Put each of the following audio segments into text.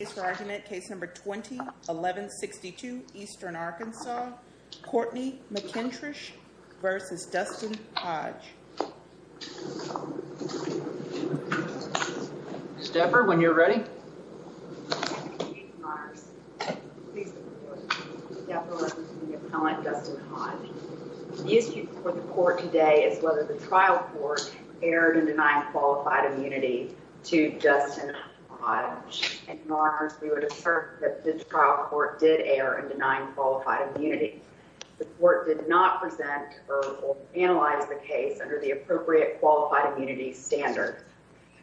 The case for argument, case number 20-1162, Eastern Arkansas, Courtney MacKintrush v. Dustin Hodge. Stepper, when you're ready. The issue for the court today is whether the trial court erred in denying qualified immunity to Dustin Hodge. In other words, we would assert that the trial court did err in denying qualified immunity. The court did not present or analyze the case under the appropriate qualified immunity standard.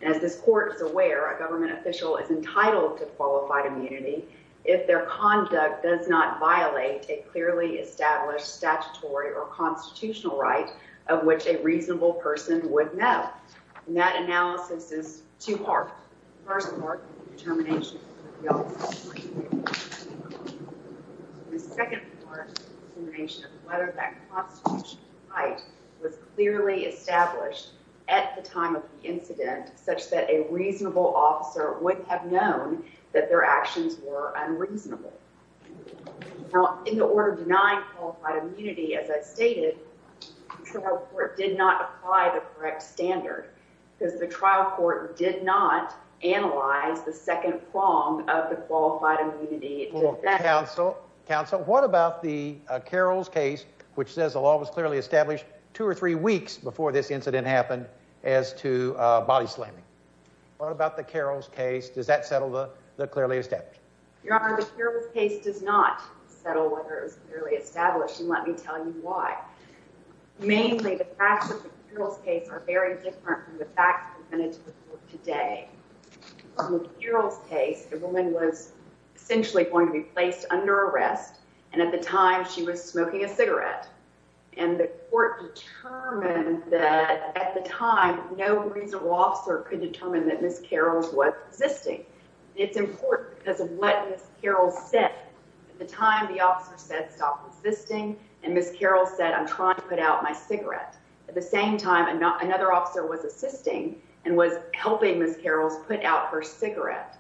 As this court is aware, a government official is entitled to qualified immunity if their conduct does not violate a clearly established statutory or constitutional right of which a reasonable person would know. That analysis is two-part. The first part is the determination of the guilt. The second part is the determination of whether that constitutional right was clearly established at the time of the incident such that a reasonable officer would have known that their actions were unreasonable. In the order denying qualified immunity, as I stated, the trial court did not apply the correct standard because the trial court did not analyze the second prong of the qualified immunity. Counsel, what about the Carroll's case which says the law was clearly established two or three weeks before this incident happened as to body slamming? What about the Carroll's case? Does that settle the clearly established? Your Honor, the Carroll's case does not settle whether it was clearly established, and let me tell you why. Mainly, the facts of the Carroll's case are very different from the facts presented to the court today. In the Carroll's case, the woman was essentially going to be placed under arrest, and at the time, she was smoking a cigarette. And the court determined that at the time, no reasonable officer could determine that Ms. Carroll was existing. It's important because of what Ms. Carroll said. At the time, the officer said, stop insisting, and Ms. Carroll said, I'm trying to put out my cigarette. At the same time, another officer was assisting and was helping Ms. Carroll put out her cigarette.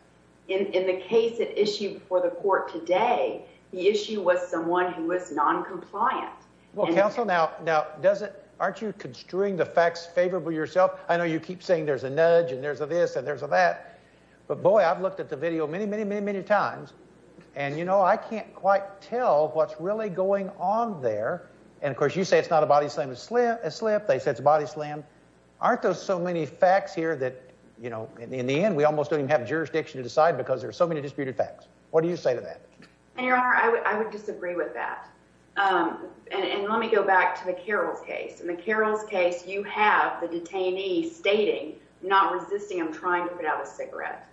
In the case that issued before the court today, the issue was someone who was noncompliant. Well, counsel, now, doesn't, aren't you construing the facts favorable yourself? I know you keep saying there's a nudge and there's a this and there's a that. But, boy, I've looked at the video many, many, many, many times, and, you know, I can't quite tell what's really going on there. And, of course, you say it's not a body slam, a slip. They said it's a body slam. Aren't there so many facts here that, you know, in the end, we almost don't even have jurisdiction to decide because there are so many disputed facts. What do you say to that? And, Your Honor, I would disagree with that. And let me go back to the Carroll's case. In the Carroll's case, you have the detainee stating, not resisting, I'm trying to put out a cigarette.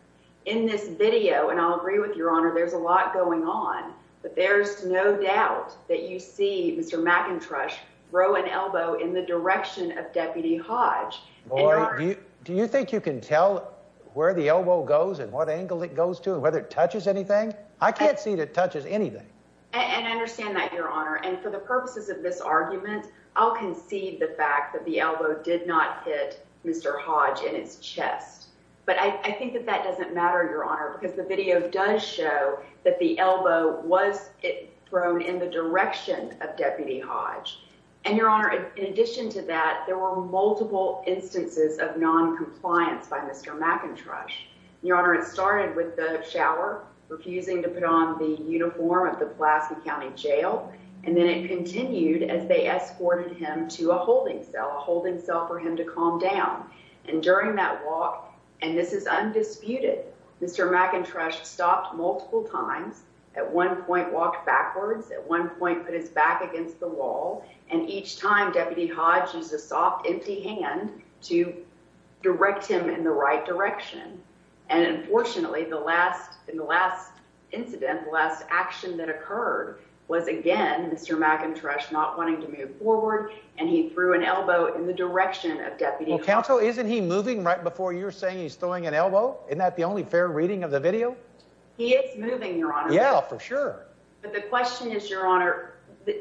In this video, and I'll agree with Your Honor, there's a lot going on, but there's no doubt that you see Mr. McIntosh throw an elbow in the direction of Deputy Hodge. Boy, do you think you can tell where the elbow goes and what angle it goes to and whether it touches anything? I can't see that it touches anything. And I understand that, Your Honor. And for the purposes of this argument, I'll concede the fact that the elbow did not hit Mr. Hodge in his chest. But I think that that doesn't matter, Your Honor, because the video does show that the elbow was thrown in the direction of Deputy Hodge. And, Your Honor, in addition to that, there were multiple instances of noncompliance by Mr. McIntosh. Your Honor, it started with the shower, refusing to put on the uniform of the Pulaski County Jail. And then it continued as they escorted him to a holding cell, a holding cell for him to calm down. And during that walk, and this is undisputed, Mr. McIntosh stopped multiple times, at one point walked backwards, at one point put his back against the wall. And each time, Deputy Hodge used a soft, empty hand to direct him in the right direction. And, unfortunately, in the last incident, the last action that occurred was, again, Mr. McIntosh not wanting to move forward. And he threw an elbow in the direction of Deputy Hodge. Well, counsel, isn't he moving right before you're saying he's throwing an elbow? Isn't that the only fair reading of the video? He is moving, Your Honor. Yeah, for sure. But the question is, Your Honor,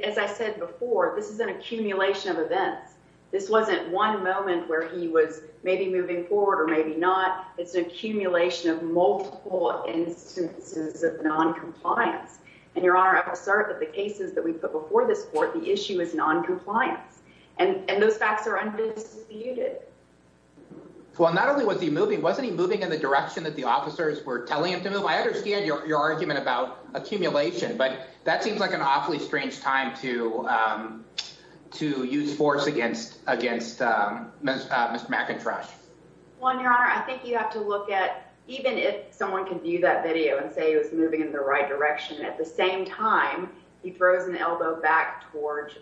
as I said before, this is an accumulation of events. This wasn't one moment where he was maybe moving forward or maybe not. It's an accumulation of multiple instances of noncompliance. And, Your Honor, I will assert that the cases that we put before this court, the issue is noncompliance. And those facts are undisputed. Well, not only was he moving, wasn't he moving in the direction that the officers were telling him to move? Counsel, I understand your argument about accumulation, but that seems like an awfully strange time to use force against Mr. McIntosh. Well, Your Honor, I think you have to look at even if someone can view that video and say he was moving in the right direction, at the same time, he throws an elbow back towards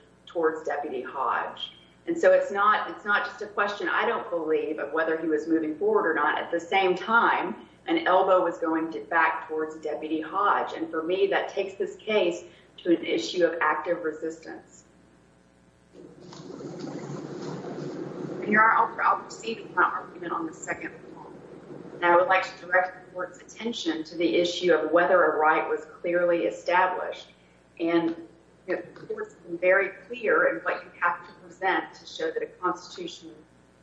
Deputy Hodge. And so it's not just a question I don't believe of whether he was moving forward or not. At the same time, an elbow was going back towards Deputy Hodge. And for me, that takes this case to an issue of active resistance. Your Honor, I'll proceed with my argument on the second floor. And I would like to direct the court's attention to the issue of whether a right was clearly established. And the court's been very clear in what you have to present to show that a constitutional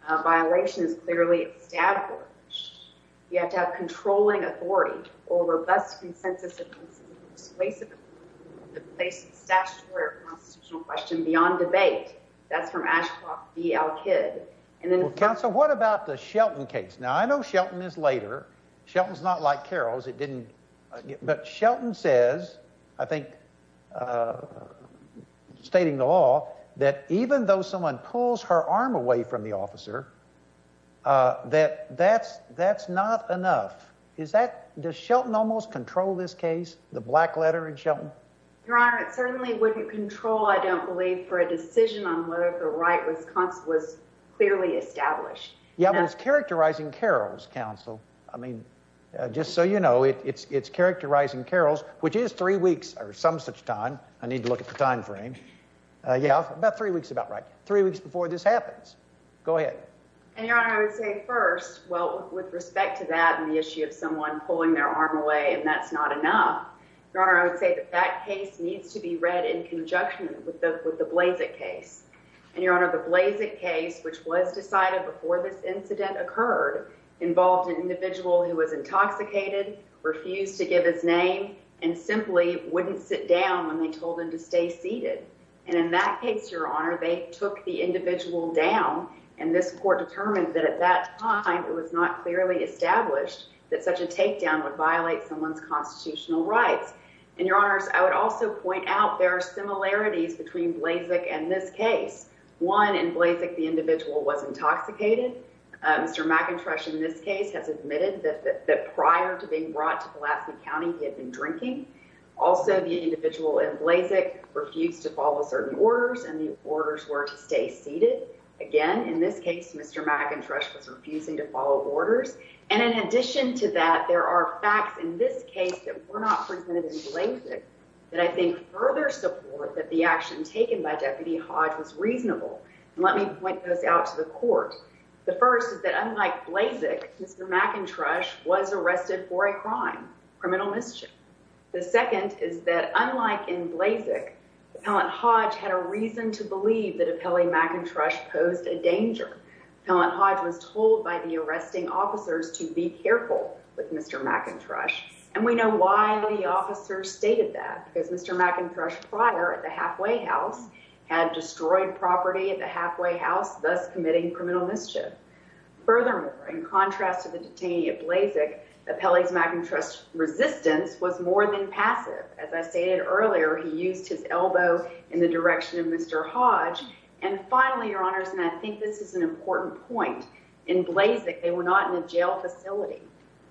violation is clearly established. You have to have controlling authority or robust consensus in the place of the statutory or constitutional question beyond debate. That's from Ashcroft v. Al-Kidd. Counsel, what about the Shelton case? Now, I know Shelton is later. Shelton's not like Carroll's. But Shelton says, I think, stating the law, that even though someone pulls her arm away from the officer, that that's not enough. Does Shelton almost control this case, the black letter in Shelton? Your Honor, it certainly wouldn't control, I don't believe, for a decision on whether the right was clearly established. Yeah, but it's characterizing Carroll's counsel. I mean, just so you know, it's characterizing Carroll's, which is three weeks or some such time. I need to look at the time frame. Yeah, about three weeks, about right. Three weeks before this happens. Go ahead. And, Your Honor, I would say first, well, with respect to that and the issue of someone pulling their arm away and that's not enough, Your Honor, I would say that that case needs to be read in conjunction with the Blazek case. And, Your Honor, the Blazek case, which was decided before this incident occurred, involved an individual who was intoxicated, refused to give his name, and simply wouldn't sit down when they told him to stay seated. And in that case, Your Honor, they took the individual down and this court determined that at that time it was not clearly established that such a takedown would violate someone's constitutional rights. And, Your Honors, I would also point out there are similarities between Blazek and this case. One, in Blazek, the individual was intoxicated. Mr. McIntosh, in this case, has admitted that prior to being brought to Pulaski County, he had been drinking. Also, the individual in Blazek refused to follow certain orders and the orders were to stay seated. Again, in this case, Mr. McIntosh was refusing to follow orders. And in addition to that, there are facts in this case that were not presented in Blazek that I think further support that the action taken by Deputy Hodge was reasonable. Let me point those out to the court. The first is that unlike Blazek, Mr. McIntosh was arrested for a crime, criminal mischief. The second is that unlike in Blazek, Appellant Hodge had a reason to believe that Appellant McIntosh posed a danger. Appellant Hodge was told by the arresting officers to be careful with Mr. McIntosh. And we know why the officers stated that, because Mr. McIntosh, prior at the halfway house, had destroyed property at the halfway house, thus committing criminal mischief. Furthermore, in contrast to the detainee at Blazek, Appellant McIntosh's resistance was more than passive. As I stated earlier, he used his elbow in the direction of Mr. Hodge. And finally, Your Honors, and I think this is an important point. In Blazek, they were not in a jail facility.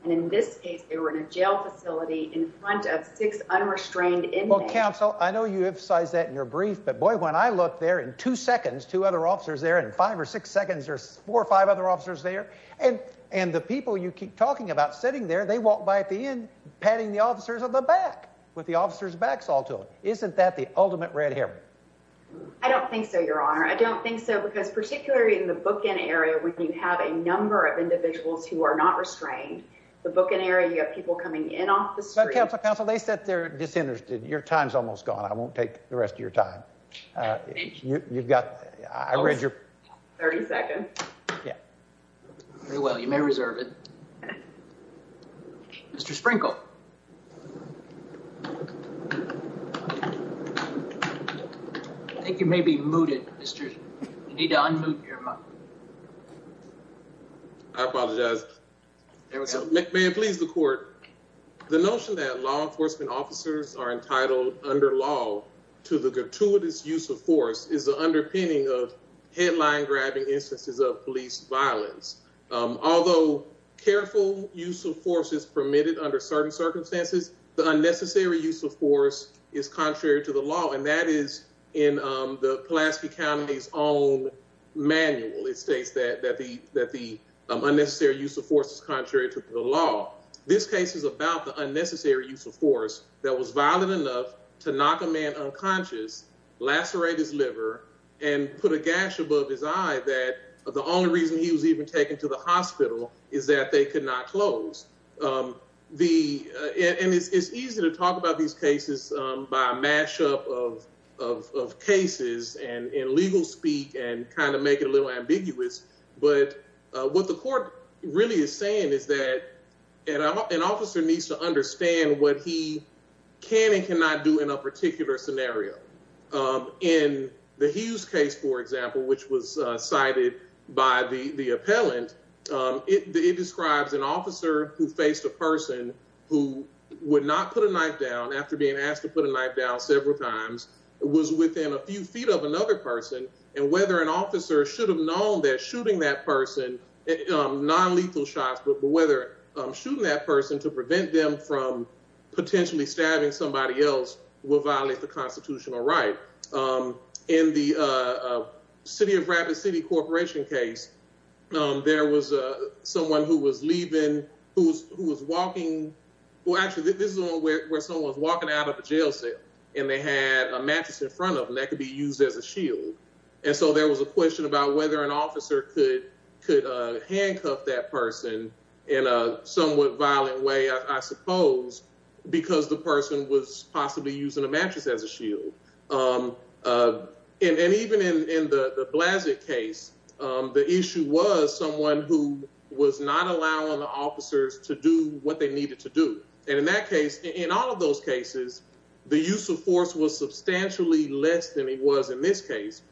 And in this case, they were in a jail facility in front of six unrestrained inmates. Well, Counsel, I know you emphasized that in your brief, but boy, when I look there, in two seconds, two other officers there, in five or six seconds, there's four or five other officers there. And the people you keep talking about sitting there, they walk by at the end, patting the officers on the back with the officers' backs all to them. Isn't that the ultimate red herring? I don't think so, Your Honor. I don't think so, because particularly in the bookend area, when you have a number of individuals who are not restrained, the bookend area, you have people coming in off the street. But, Counsel, Counsel, they sit there disinterested. Your time's almost gone. I won't take the rest of your time. Thank you. You've got, I read your. 30 seconds. Yeah. Very well. You may reserve it. Mr. Sprinkle. I think you may be mooted, Mr. You need to unmute your mic. I apologize. May it please the court. The notion that law enforcement officers are entitled under law to the gratuitous use of force is the underpinning of headline-grabbing instances of police violence. Although careful use of force is permitted under certain circumstances, the unnecessary use of force is contrary to the law, and that is in the Pulaski County's own manual. It states that the unnecessary use of force is contrary to the law. This case is about the unnecessary use of force that was violent enough to knock a man unconscious, lacerate his liver, and put a gash above his eye that the only reason he was even taken to the hospital is that they could not close. And it's easy to talk about these cases by a mashup of cases and legal speak and kind of make it a little ambiguous, but what the court really is saying is that an officer needs to understand what he can and cannot do in a particular scenario. In the Hughes case, for example, which was cited by the appellant, it describes an officer who faced a person who would not put a knife down after being asked to put a knife down several times, was within a few feet of another person, and whether an officer should have known that shooting that person, nonlethal shots, but whether shooting that person to prevent them from potentially stabbing somebody else will violate the constitutional right. In the City of Rapid City Corporation case, there was someone who was leaving, who was walking, well actually this is where someone was walking out of a jail cell, and they had a mattress in front of them that could be used as a shield. And so there was a question about whether an officer could handcuff that person in a somewhat violent way, I suppose, because the person was possibly using a mattress as a shield. And even in the Blasick case, the issue was someone who was not allowing the officers to do what they needed to do. And in that case, in all of those cases, the use of force was substantially less than it was in this case.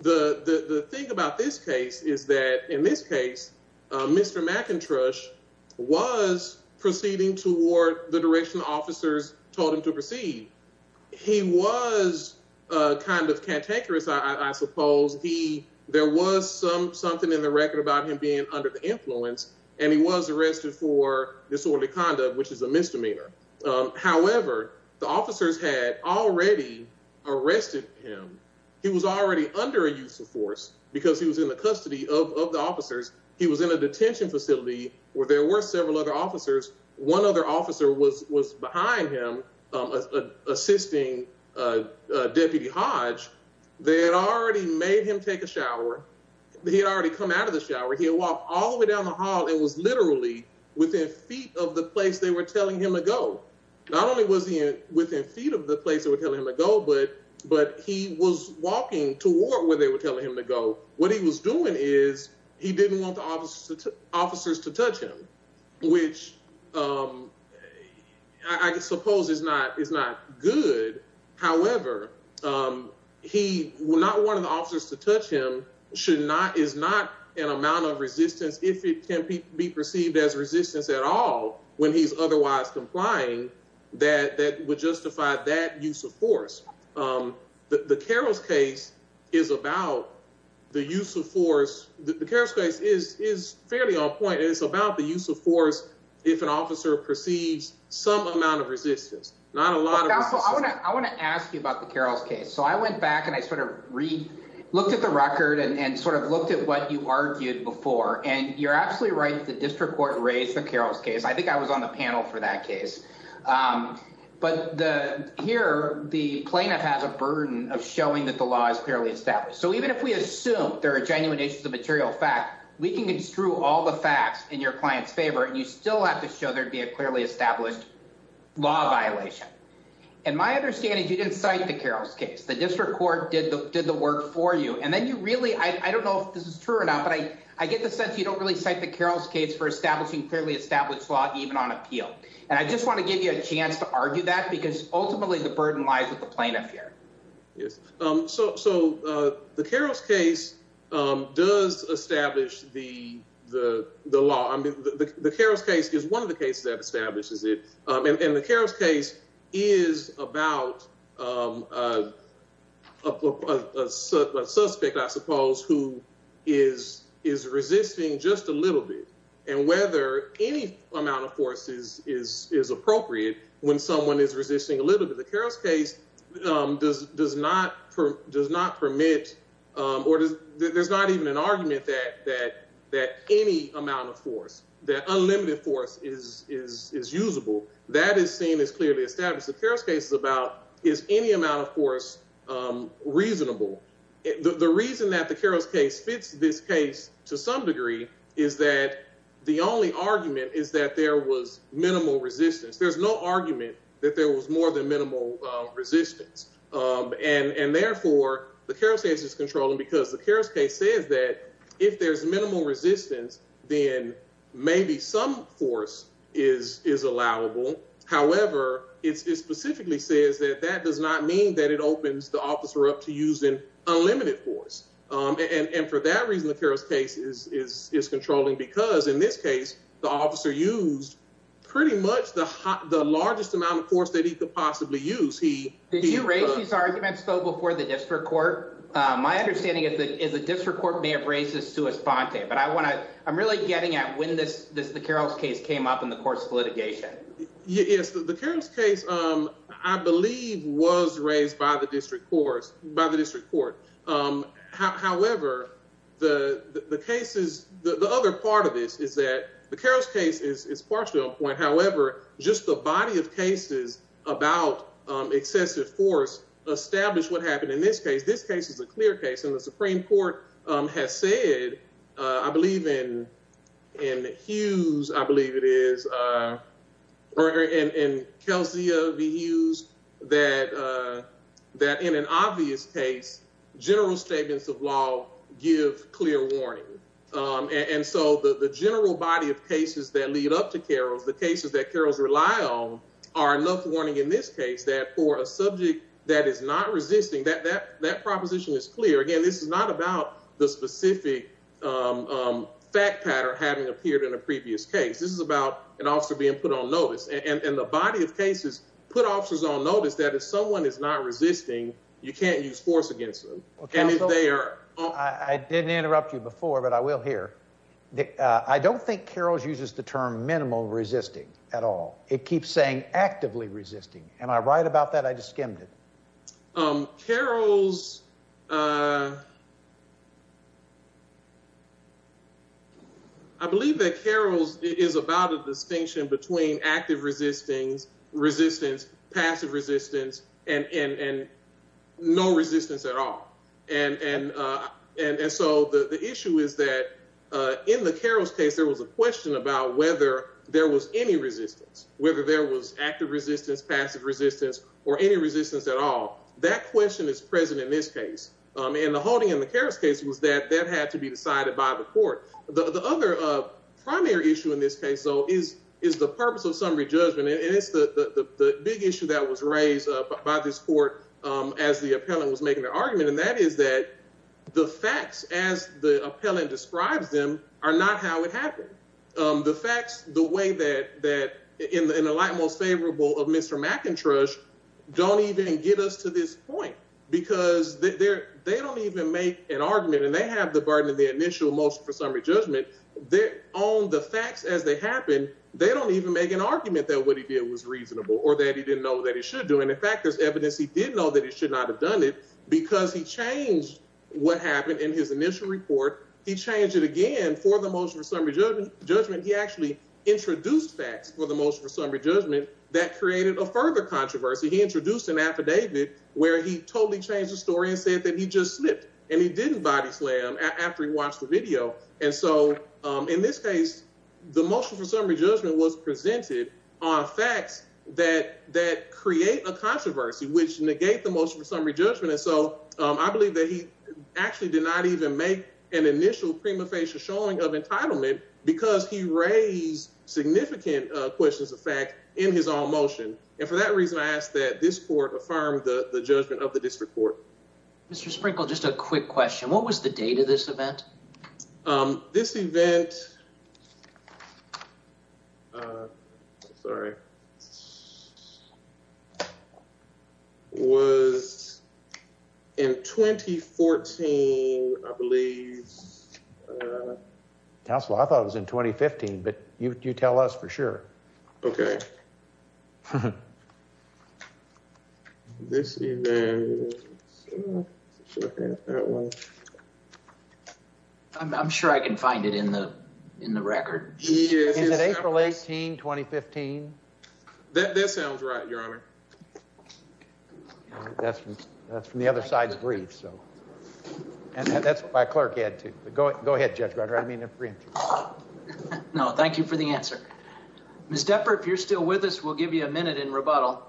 The thing about this case is that in this case, Mr. McIntosh was proceeding toward the direction officers told him to proceed. He was kind of cantankerous, I suppose. There was something in the record about him being under the influence, and he was arrested for disorderly conduct, which is a misdemeanor. However, the officers had already arrested him. He was already under a use of force because he was in the custody of the officers. He was in a detention facility where there were several other officers. One other officer was behind him, assisting Deputy Hodge. They had already made him take a shower. He had already come out of the shower. He had walked all the way down the hall and was literally within feet of the place they were telling him to go. Not only was he within feet of the place they were telling him to go, but he was walking toward where they were telling him to go. What he was doing is he didn't want the officers to touch him, which I suppose is not good. However, not wanting the officers to touch him is not an amount of resistance, if it can be perceived as resistance at all when he's otherwise complying, that would justify that use of force. The Carroll's case is about the use of force. The Carroll's case is fairly on point. It's about the use of force if an officer perceives some amount of resistance, not a lot of resistance. I want to ask you about the Carroll's case. I went back and I looked at the record and looked at what you argued before. You're absolutely right. The district court raised the Carroll's case. I think I was on the panel for that case. Here, the plaintiff has a burden of showing that the law is clearly established. Even if we assume there are genuine issues of material fact, we can construe all the facts in your client's favor and you still have to show there'd be a clearly established law violation. My understanding is you didn't cite the Carroll's case. The district court did the work for you. I don't know if this is true or not, but I get the sense you don't really cite the Carroll's case for establishing clearly established law even on appeal. And I just want to give you a chance to argue that because ultimately the burden lies with the plaintiff here. Yes. So the Carroll's case does establish the law. I mean, the Carroll's case is one of the cases that establishes it. And the Carroll's case is about a suspect, I suppose, who is resisting just a little bit. And whether any amount of force is appropriate when someone is resisting a little bit. The Carroll's case does not permit or there's not even an argument that any amount of force, that unlimited force is usable. That is seen as clearly established. The Carroll's case is about is any amount of force reasonable? The reason that the Carroll's case fits this case to some degree is that the only argument is that there was minimal resistance. There's no argument that there was more than minimal resistance. And therefore, the Carroll's case is controlling because the Carroll's case says that if there's minimal resistance, then maybe some force is allowable. However, it specifically says that that does not mean that it opens the officer up to using unlimited force. And for that reason, the Carroll's case is controlling because in this case, the officer used pretty much the largest amount of force that he could possibly use. Did you raise these arguments, though, before the district court? My understanding is that the district court may have raised this sua sponte. But I want to I'm really getting at when this this the Carroll's case came up in the course of litigation. Yes. The Carroll's case, I believe, was raised by the district courts, by the district court. However, the cases, the other part of this is that the Carroll's case is partially on point. However, just the body of cases about excessive force establish what happened in this case. This case is a clear case in the Supreme Court has said, I believe, in in the Hughes, I believe it is. And Kelsey of the use that that in an obvious case, general statements of law give clear warning. And so the general body of cases that lead up to Carol's, the cases that Carol's rely on are enough warning in this case that for a subject that is not resisting that, that proposition is clear again. This is not about the specific fact pattern having appeared in a previous case. This is about an officer being put on notice. And the body of cases put officers on notice that if someone is not resisting, you can't use force against them. And if they are. I didn't interrupt you before, but I will hear that. I don't think Carol's uses the term minimal resisting at all. It keeps saying actively resisting. And I write about that. I just skimmed it. Carol's. I believe that Carol's is about a distinction between active resisting resistance, passive resistance and no resistance at all. And so the issue is that in the Carol's case, there was a question about whether there was any resistance, whether there was active resistance, passive resistance or any resistance at all. That question is present in this case. And the holding in the Carol's case was that that had to be decided by the court. The other primary issue in this case, though, is is the purpose of summary judgment. And it's the big issue that was raised by this court as the appellant was making their argument. And that is that the facts, as the appellant describes them, are not how it happened. The facts, the way that that in the light, most favorable of Mr. McIntosh, don't even get us to this point because they're they don't even make an argument. And they have the burden of the initial motion for summary judgment. They own the facts as they happen. They don't even make an argument that what he did was reasonable or that he didn't know that he should do. And in fact, there's evidence he didn't know that he should not have done it because he changed what happened in his initial report. He changed it again for the motion for summary judgment. He actually introduced facts for the motion for summary judgment that created a further controversy. He introduced an affidavit where he totally changed the story and said that he just slipped and he didn't body slam after he watched the video. And so in this case, the motion for summary judgment was presented on facts that that create a controversy which negate the motion for summary judgment. And so I believe that he actually did not even make an initial prima facie showing of entitlement because he raised significant questions of fact in his own motion. And for that reason, I ask that this court affirmed the judgment of the district court. Mr. Sprinkle, just a quick question. What was the date of this event? This event. Sorry. Was in 2014, I believe. Counsel, I thought it was in 2015, but you tell us for sure. OK, this is. I'm sure I can find it in the in the record. Is it April 18, 2015? That sounds right, Your Honor. That's that's from the other side of the breeze. So that's my clerk had to go. Go ahead, Judge. I mean, no. Thank you for the answer. Miss Depper, if you're still with us, we'll give you a minute in rebuttal.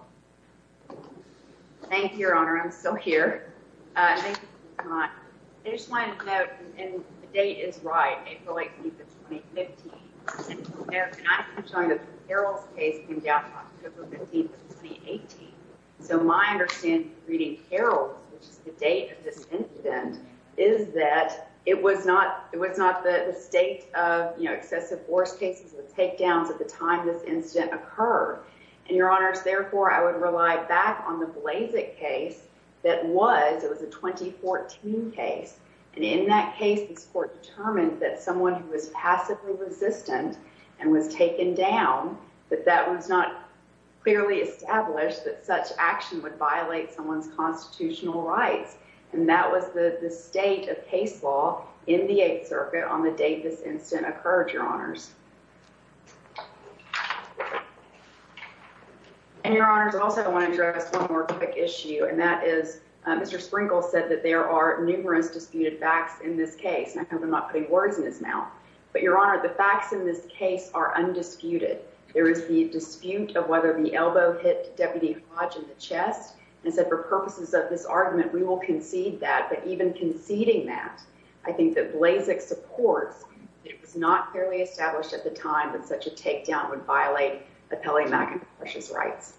Thank you, Your Honor. I'm still here. I just want to note and the date is right. April 18, 2015. And I'm trying to Harold's case. Yeah, 15, 18. So my understanding reading Harold's, which is the date of this incident, is that it was not it was not the state of excessive force cases. The takedowns at the time this incident occurred. And your honors, therefore, I would rely back on the Blazek case that was it was a 2014 case. And in that case, this court determined that someone who was passively resistant and was taken down, that that was not clearly established, that such action would violate someone's constitutional rights. And that was the state of case law in the 8th Circuit on the day this incident occurred. Your honors. And your honors also want to address one more issue, and that is Mr. Sprinkle said that there are numerous disputed facts in this case. I hope I'm not putting words in his mouth, but your honor, the facts in this case are undisputed. There is the dispute of whether the elbow hit Deputy Hodge in the chest and said, for purposes of this argument, we will concede that. But even conceding that, I think that Blazek supports. It was not fairly established at the time that such a takedown would violate the Pele-McIntosh's rights.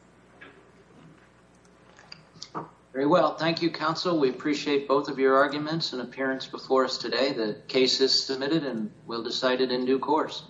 Very well. Thank you, counsel. We appreciate both of your arguments and appearance before us today. The case is submitted and will decided in due course.